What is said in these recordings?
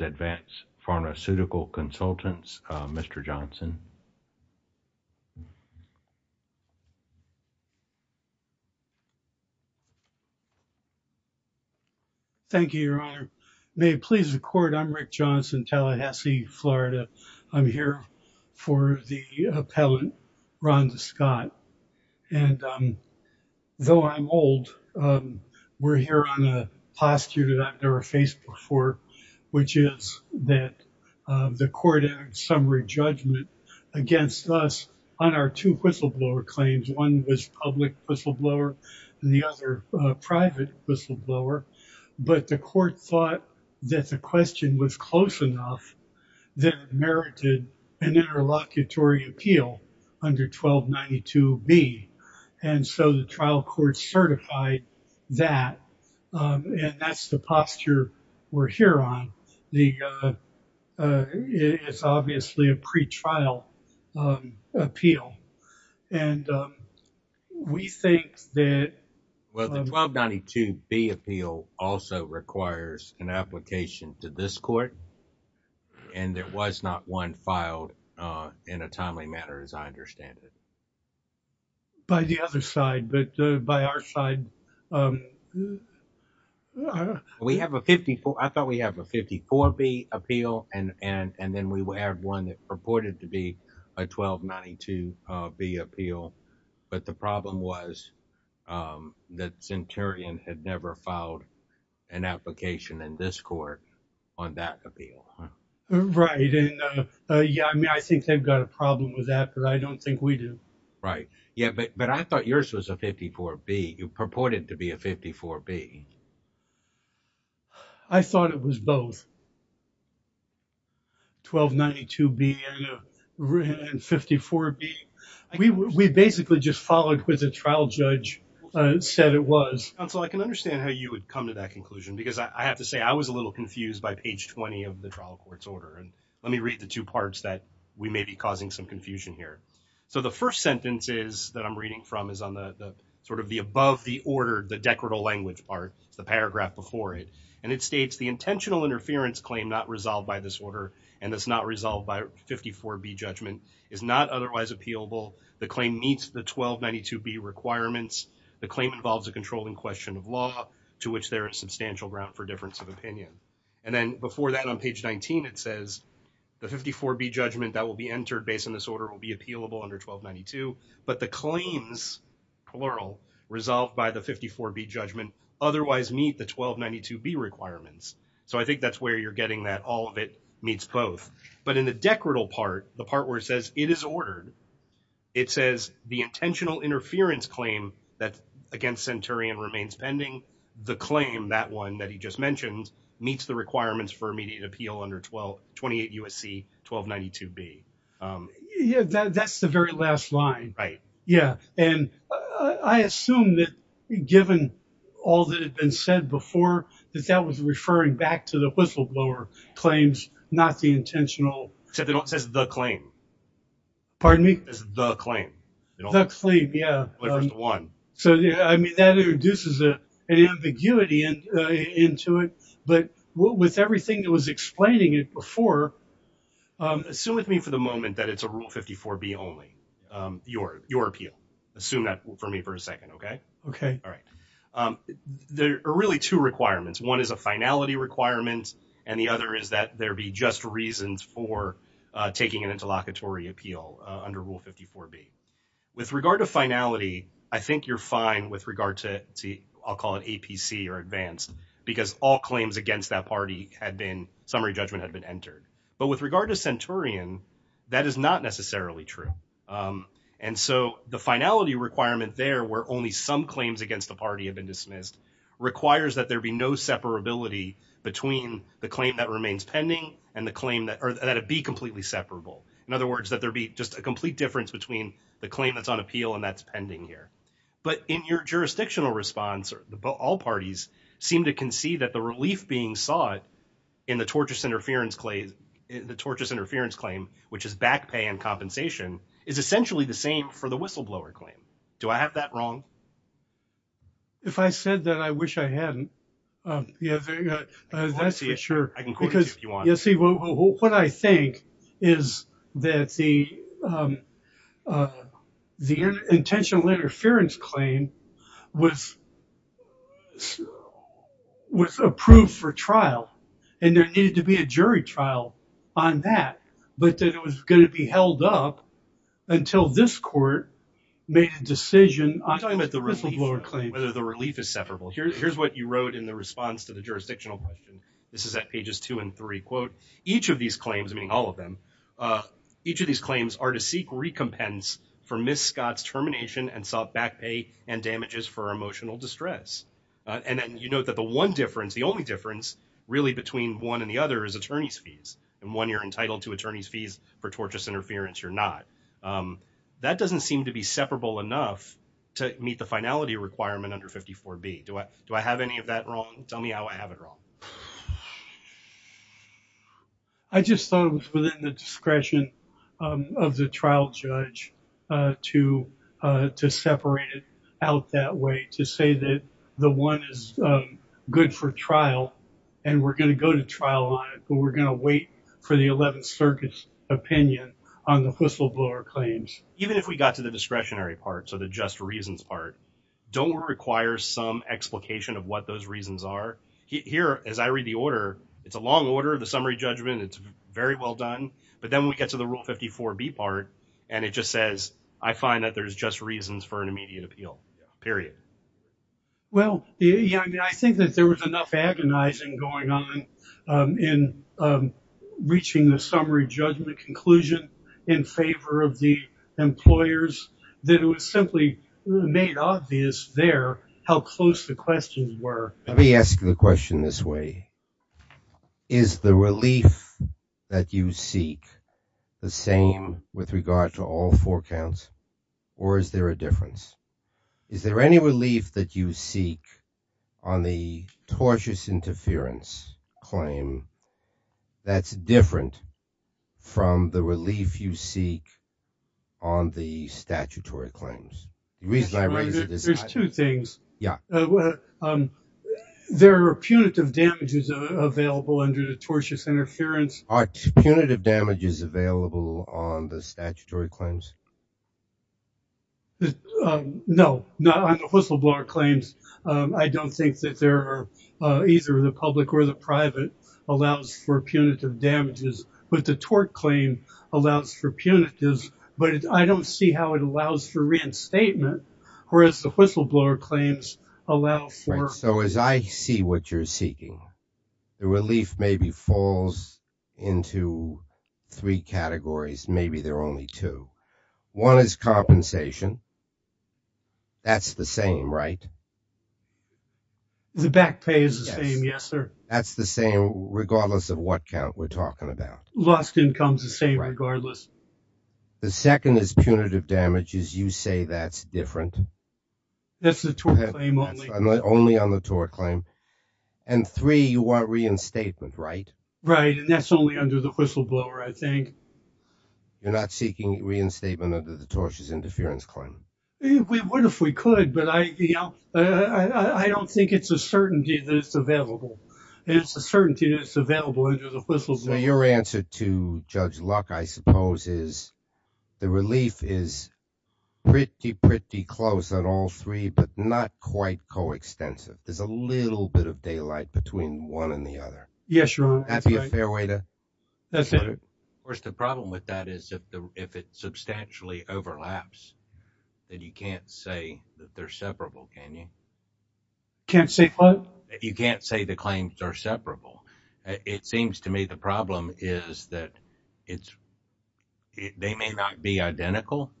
Advanced Pharmaceutical Consultants, Mr. Johnson. Thank you, Your Honor. May it please the Court, I'm Rick Johnson, Tallahassee, Florida. I'm here for the appellant, Ronda Scott, and though I'm old, we're here on a that the Court entered summary judgment against us on our two whistleblower claims. One was public whistleblower, the other private whistleblower, but the Court thought that the question was close enough that it merited an interlocutory appeal under 1292B, and so the trial court certified that, and that's the posture we're here on. It's obviously a pretrial appeal, and we think that Well, the 1292B appeal also requires an application to this Court, and there was not one filed in a timely manner, as I understand it. By the other side, but by our side. We have a 54, I thought we have a 54B appeal, and then we have one that purported to be a 1292B appeal, but the problem was that Centurion had never filed an application in this Court on that appeal. Right, and yeah, I mean, I think they've got a problem with that, but I don't think we do. Right, yeah, but I thought yours was a 54B. You purported to be a 54B. I thought it was both. 1292B and 54B. We basically just followed what the trial judge said it was. Counsel, I can understand how you would come to that conclusion, because I have to say, I was a little confused by page 20 of the trial court's order, and let me read the two parts that may be causing some confusion here. So, the first sentence is, that I'm reading from, is on the sort of the above the order, the decorative language part, the paragraph before it, and it states, the intentional interference claim not resolved by this order, and that's not resolved by 54B judgment, is not otherwise appealable. The claim meets the 1292B requirements. The claim involves a controlling question of law, to which there is substantial ground for difference of this order will be appealable under 1292, but the claims, plural, resolved by the 54B judgment otherwise meet the 1292B requirements. So, I think that's where you're getting that all of it meets both, but in the decorative part, the part where it says, it is ordered, it says, the intentional interference claim that against Centurion remains pending, the claim, that one that he just mentioned, meets the requirements for immediate appeal under 28 U.S.C. 1292B. Yeah, that's the very last line. Right. Yeah, and I assume that given all that had been said before, that that was referring back to the whistleblower claims, not the intentional. Except they don't say the claim. Pardon me? The claim. The claim, yeah. So, I mean, that introduces an ambiguity into it, but with everything that was explaining it before, assume with me for the moment that it's a Rule 54B only, your appeal. Assume that for me for a second, okay? Okay. All right. There are really two requirements. One is a finality requirement, and the other is that there be just reasons for taking an interlocutory appeal under Rule 54B. With regard to finality, I think you're fine with regard to, I'll call it APC or advanced, because all claims against that party had been, summary judgment had been entered. But with regard to Centurion, that is not necessarily true. And so the finality requirement there, where only some claims against the party have been dismissed, requires that there be no separability between the claim that remains pending and the claim that, or that it be the claim that's on appeal and that's pending here. But in your jurisdictional response, all parties seem to concede that the relief being sought in the tortious interference claim, which is back pay and compensation, is essentially the same for the whistleblower claim. Do I have that wrong? If I said that, I wish I hadn't. Yeah, that's for sure. Because, you see, what I think is that the intentional interference claim was approved for trial, and there needed to be a jury trial on that, but that it was going to be held up until this court made a decision on the whistleblower claim. Whether the relief is separable. Here's what you wrote in the response to the jurisdictional question. This is at pages two and three. Quote, each of these claims, meaning all of them, each of these claims are to seek recompense for Ms. Scott's termination and sought back pay and damages for emotional distress. And then you note that the one difference, the only difference really between one and the other is attorney's fees. And when you're entitled to attorney's fees for tortious interference, you're not. That doesn't seem to be separable enough to meet the finality requirement under 54B. Do I have any of that wrong? Tell me how I have it wrong. I just thought it was within the discretion of the trial judge to separate it out that way, to say that the one is good for trial and we're going to go to trial on it, but we're going to wait for the 11th Circuit's opinion on the whistleblower claims. Even if we got to the reasons part, don't we require some explication of what those reasons are? Here, as I read the order, it's a long order of the summary judgment. It's very well done. But then we get to the rule 54B part and it just says, I find that there's just reasons for an immediate appeal, period. Well, I think that there was enough agonizing going on in reaching the summary judgment conclusion in favor of the employers that it was simply made obvious there how close the questions were. Let me ask you the question this way. Is the relief that you seek the same with regard to all four counts or is there a difference? Is there any relief that you seek on the tortious interference claim that's different from the relief you seek on the statutory claims? There's two things. There are punitive damages available under the tortious interference. Are punitive damages available on the statutory claims? No, not on the whistleblower claims. I don't think that either the public or the private allows for punitive damages, but the tort claim allows for punitives, but I don't see how it allows for reinstatement, whereas the whistleblower claims allow for... Right, so as I see what you're seeking, the relief maybe falls into three categories, maybe there are only two. One is compensation. That's the same, right? The back pay is the same, yes, sir. That's the same regardless of what count we're talking about. Lost income is the same regardless. The second is punitive damages. You say that's different. That's the tort claim only. Only on the tort claim. And three, you want reinstatement, right? Right, and that's only under the whistleblower, I think. You're not seeking reinstatement under the tortious interference claim? We would if we could, but I don't think it's a certainty that it's available. And it's a certainty that it's available under the whistleblower. Your answer to Judge Luck, I suppose, is the relief is pretty, pretty close on all three, but not quite coextensive. There's a little bit of daylight between one and the other. Yes, you're right. That'd be a fair way to put it. Of course, the problem with that is if it substantially overlaps, then you can't say that they're separable, can you? Can't say what? You can't say the claims are separable. It seems to me the problem is that they may not be identical.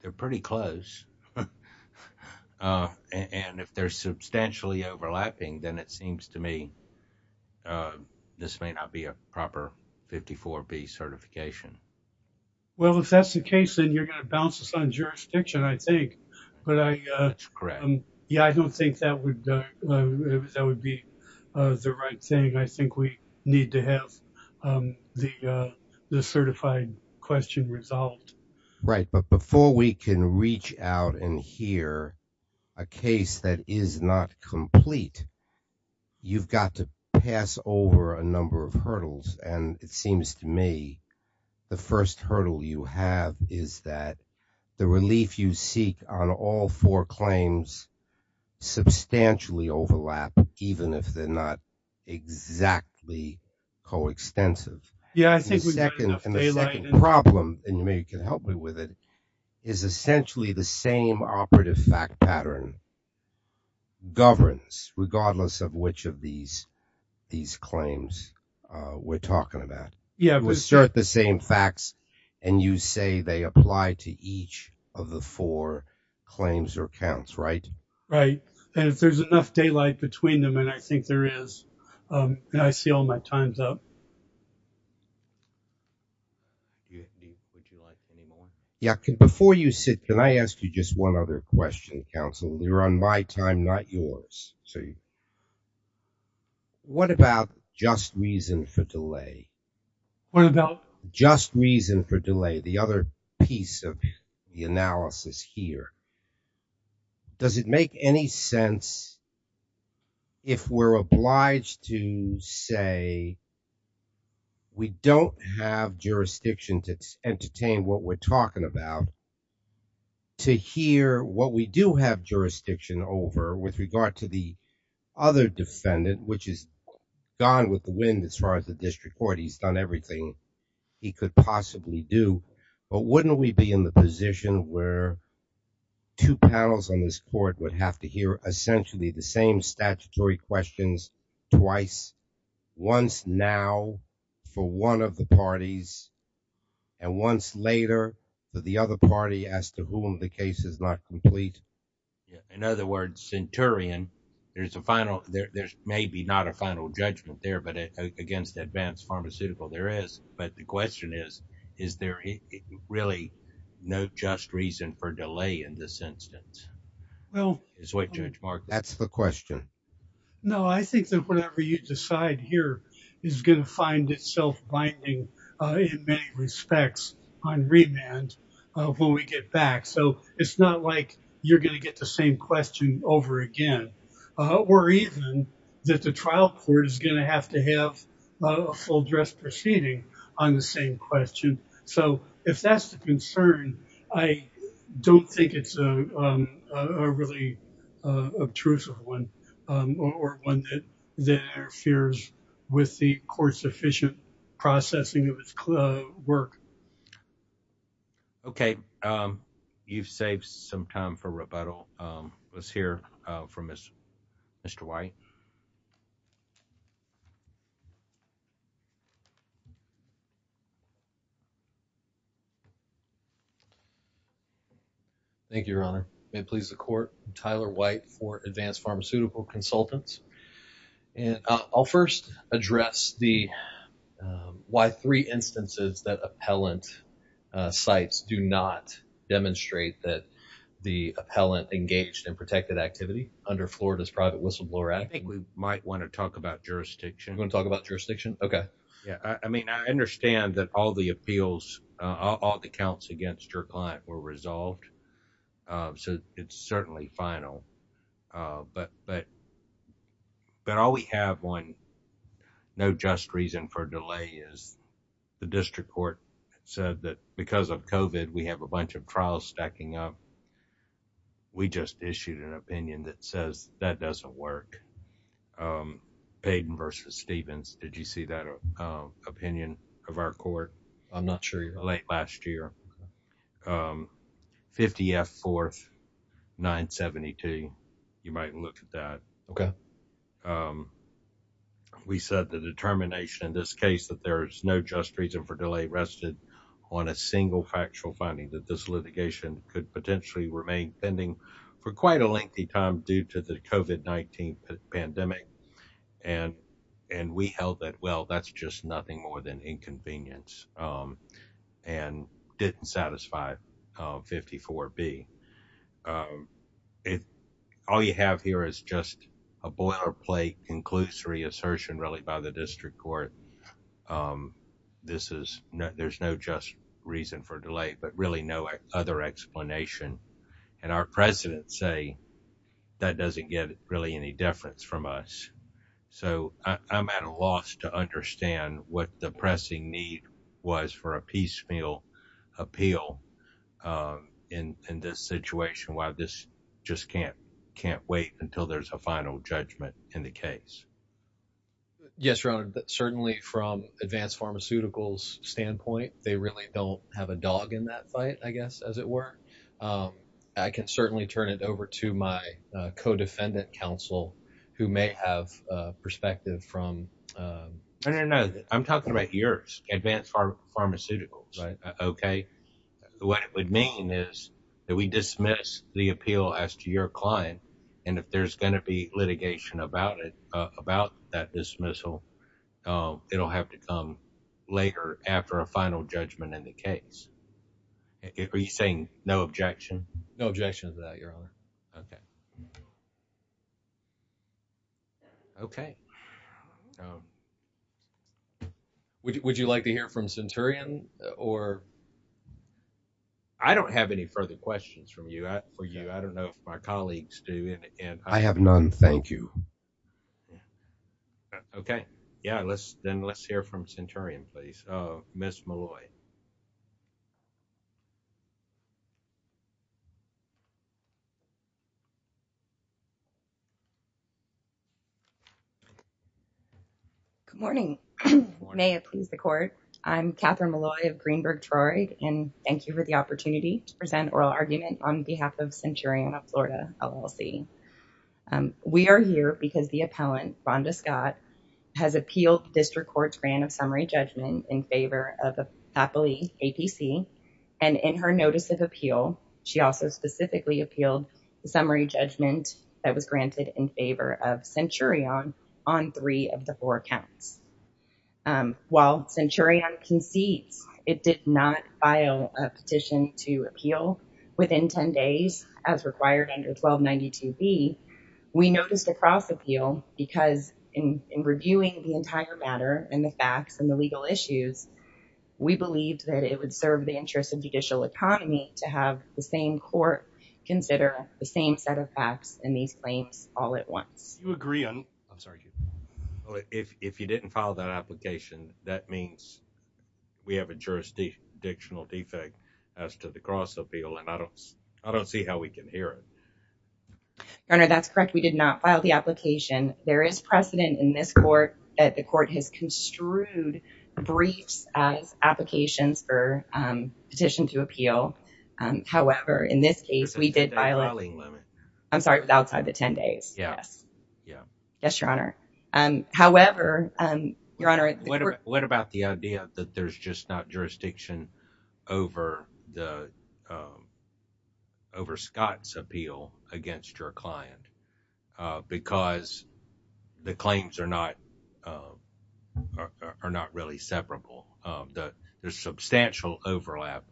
They're pretty close. And if they're substantially overlapping, then it seems to me that this may not be a proper 54-B certification. Well, if that's the case, then you're going to bounce us on jurisdiction, I think. Yeah, I don't think that would be the right thing. I think we need to have the certified question resolved. Right, but before we can reach out and hear a case that is not complete, you've got to pass over a number of hurdles. And it seems to me the first hurdle you have is that the relief you seek on all four claims substantially overlap, even if they're not exactly coextensive. Yeah, I think we've got enough daylight. And the second problem, and you can help me with it, is essentially the same operative fact pattern governs, regardless of which of these claims we're talking about. Yeah. We assert the same facts, and you say they apply to each of the four claims or counts, right? Right. And if there's enough daylight between them, and I think there is, and I see all my time's up. Would you like any more? Yeah, before you sit, can I ask you just one other question, counsel? You're on my time, not yours. What about just reason for delay? What about? Just reason for delay, the other piece of the analysis here. Does it make any sense if we're obliged to say we don't have jurisdiction to entertain what we're talking about, to hear what we do have jurisdiction over with regard to the other defendant, which is gone with the wind as far as the district court. He's done everything he could possibly do. But wouldn't we be in the position where two panels on this court would have to hear essentially the same statutory questions twice, once now for one of the parties, and once later for the other party as to whom the case is not complete? In other words, Centurion, there's a final, there's maybe not a final judgment there, against advanced pharmaceutical, there is. But the question is, is there really no just reason for delay in this instance? Well, that's the question. No, I think that whatever you decide here is going to find itself binding in many respects on remand when we get back. So it's not like you're going to get the same question over again. Or even that the trial court is going to have to have a full dress proceeding on the same question. So if that's the concern, I don't think it's a really obtrusive one, or one that there fears with the court's efficient processing of its work. Okay, you've saved some time for rebuttal. Let's hear from Mr. White. Thank you, Your Honor. May it please the court, I'm Tyler White for Advanced Pharmaceutical Consultants. And I'll first address the why three instances that appellant sites do not demonstrate that the appellant engaged in protected activity under Florida's Private Whistleblower Act. I think we might want to talk about jurisdiction. You want to talk about jurisdiction? Okay. Yeah, I mean, I understand that all the appeals, all the counts against your client were resolved. So it's certainly final. But all we have on no just reason for delay is the district court said that because of trial stacking up, we just issued an opinion that says that doesn't work. Payden versus Stevens, did you see that opinion of our court? I'm not sure. Late last year. 50 F 4th 972. You might look at that. Okay. We said the determination in this case that there is no just reason for delay rested on a single factual finding that this litigation could potentially remain pending for quite a lengthy time due to the COVID-19 pandemic. And, and we held that. Well, that's just nothing more than inconvenience and didn't satisfy 54 B. All you have here is just a boilerplate conclusory assertion really by the district court. Um, this is no, there's no just reason for delay, but really no other explanation. And our president say that doesn't get really any difference from us. So I'm at a loss to understand what the pressing need was for a piecemeal appeal, um, in, in this situation, why this just can't, can't wait until there's a final judgment in the case. Yes, Ron, certainly from advanced pharmaceuticals standpoint, they really don't have a dog in that fight, I guess, as it were, um, I can certainly turn it over to my, uh, co-defendant counsel who may have a perspective from, um, I don't know. I'm talking about yours, advanced pharmaceuticals, right? Okay. What it would mean is that we dismiss the appeal as to your client. And if there's going to be litigation about it, uh, about that dismissal, uh, it'll have to come later after a final judgment in the case. Are you saying no objection? No objections to that. Your honor. Okay. Okay. Would you, would you like to hear from Centurion or I don't have any further questions from you. I don't know if my colleagues do and I have none. Thank you. Okay. Yeah. Let's, then let's hear from Centurion, please. Uh, Ms. Malloy. Good morning. May it please the court. I'm Catherine Malloy of Greenberg Troy and thank you for the opportunity to present oral argument on behalf of Centurion of Florida LLC. Um, we are here because the appellant Rhonda Scott has appealed district court's grant of summary judgment in favor of Appley APC. And in her notice of appeal, she also specifically appealed the summary judgment that was granted in favor of Centurion on three of the four accounts. Um, while Centurion concedes, it did not file a petition to appeal within 10 days as required under 1292B. We noticed a cross appeal because in, in reviewing the entire matter and the facts and the legal issues, we believed that it would serve the interest of judicial economy to have the same court consider the same set of facts and these claims all at once. You agree on, I'm sorry, if, if you didn't file that application, that means we have a jurisdiction dictional defect as to the cross appeal. And I don't, I don't see how we can hear it. Governor, that's correct. We did not file the application. There is precedent in this court that the court has construed briefs as applications for, um, petition to appeal. Um, however, in this case we did violate, I'm sorry, outside the 10 days. Yeah. Yes, Your Honor. Um, however, um, Your Honor. What about the idea that there's just not jurisdiction over the, um, over Scott's appeal against your client, uh, because the claims are not, uh, are not really separable. Um, the, there's substantial overlap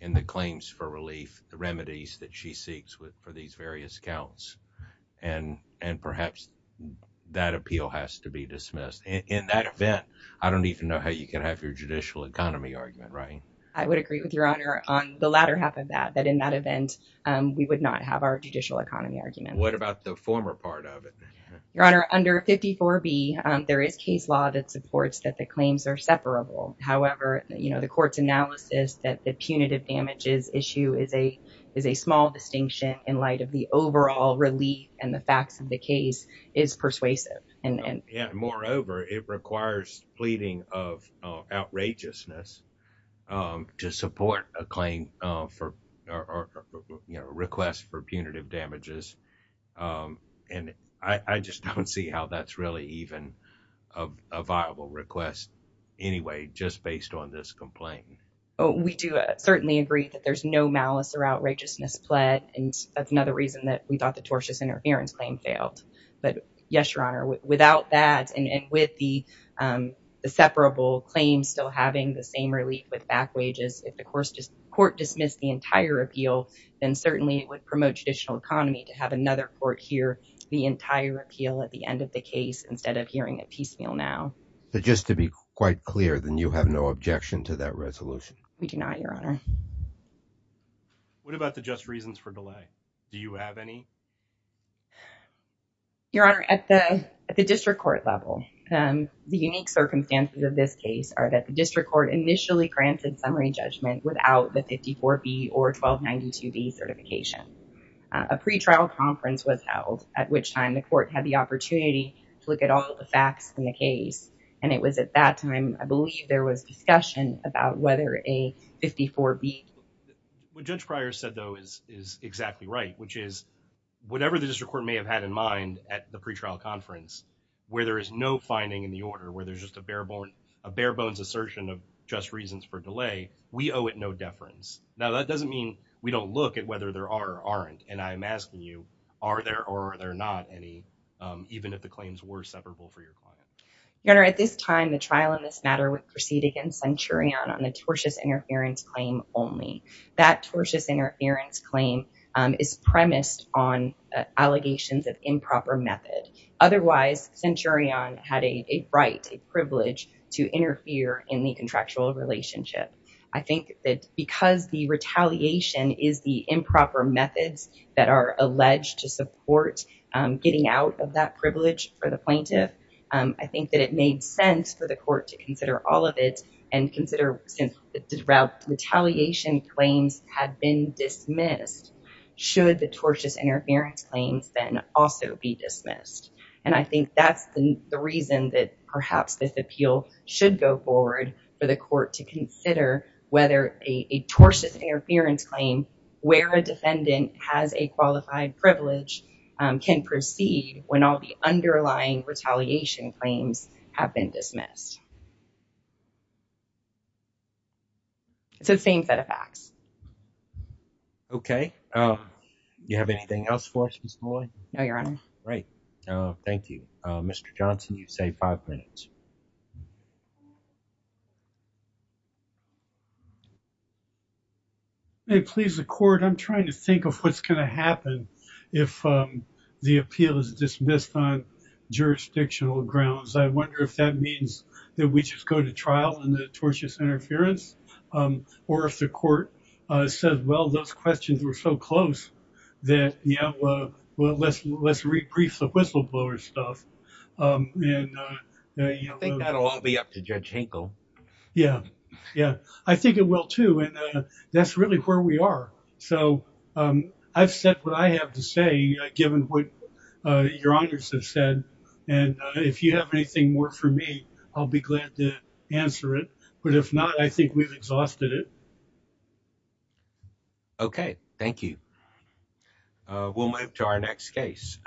in the claims for relief, the remedies that she seeks with, for these various accounts. And, and perhaps that appeal has to be dismissed in that event. I don't even know how you can have your judicial economy argument, right? I would agree with Your Honor on the latter half of that, that in that event, um, we would not have our judicial economy argument. What about the former part of it? Your Honor, under 54 B, um, there is case law that supports that the claims are separable. However, you know, the court's analysis that the punitive damages issue is a, is a small distinction in light of the overall relief and the facts of the case is persuasive. And moreover, it requires pleading of, uh, outrageousness, um, to support a claim, uh, for, or, or, you know, request for punitive damages. Um, and I, I just don't see how that's really even a viable request anyway, just based on this complaint. We do certainly agree that there's no malice or outrageousness pled. And that's another reason that we thought the tortious interference claim failed. But yes, Your Honor, without that, and with the, um, the separable claims still having the same relief with back wages, if the court dismissed the entire appeal, then certainly it would promote judicial economy to have another court hear the entire appeal at the end of the case, instead of hearing a piecemeal now. But just to be quite clear, then you have no objection to that resolution? We do not, Your Honor. What about the just reasons for delay? Do you have any? Your Honor, at the, at the district court level, um, the unique circumstances of this case are that the district court initially granted summary judgment without the 54B or 1292B certification. A pretrial conference was held at which time the court had the opportunity to look at all the facts in the case. And it was at that time, I believe there was discussion about whether a 54B. What Judge Pryor said, though, is, is exactly right, which is whatever the district court may have had in mind at the pretrial conference, where there is no finding in the order, where there's just a bare bone, a bare bones assertion of just reasons for delay, we owe it no deference. Now, that doesn't mean we don't look at whether there are or aren't. And I'm asking you, are there or are there not any, um, even if the claims were severable for your client? Your Honor, at this time, the trial in this matter would proceed against Centurion on the tortious interference claim only. That tortious interference claim, um, is premised on, uh, allegations of improper method. Otherwise, Centurion had a, a right, a privilege to interfere in the contractual relationship. I think that because the retaliation is the improper methods that are alleged to support, um, getting out of that privilege for the plaintiff, um, I think that it made sense for the court to consider all of it and consider since the retaliation claims had been dismissed, should the tortious interference claims then also be dismissed. And I think that's the, the reason that perhaps this appeal should go forward for the court to consider whether a, a tortious interference claim where a defendant has a qualified privilege, um, can proceed when all the underlying retaliation claims have been dismissed. It's the same set of facts. Okay. Um, you have anything else for us, Ms. Boyd? No, Your Honor. Great. Um, thank you. Mr. Johnson, you say five minutes. Hey, please, the court, I'm trying to think of what's going to happen if, um, the appeal is dismissed on jurisdictional grounds. I wonder if that means that we just go to trial in the tortious interference, um, or if the court, uh, said, well, those questions were so close that, you know, uh, well, let's, let's re-brief the whistleblower stuff. Um, and, uh, you know, I think that'll all be up to Judge Hinkle. Yeah. Yeah. I think it will too. And, uh, that's really where we are. So, um, I've said what I have to say, uh, given what, uh, Your Honors have said. And, uh, if you have anything more for me, I'll be glad to answer it. But if not, I think we've exhausted it. Okay. Thank you. Uh, we'll move to our next case.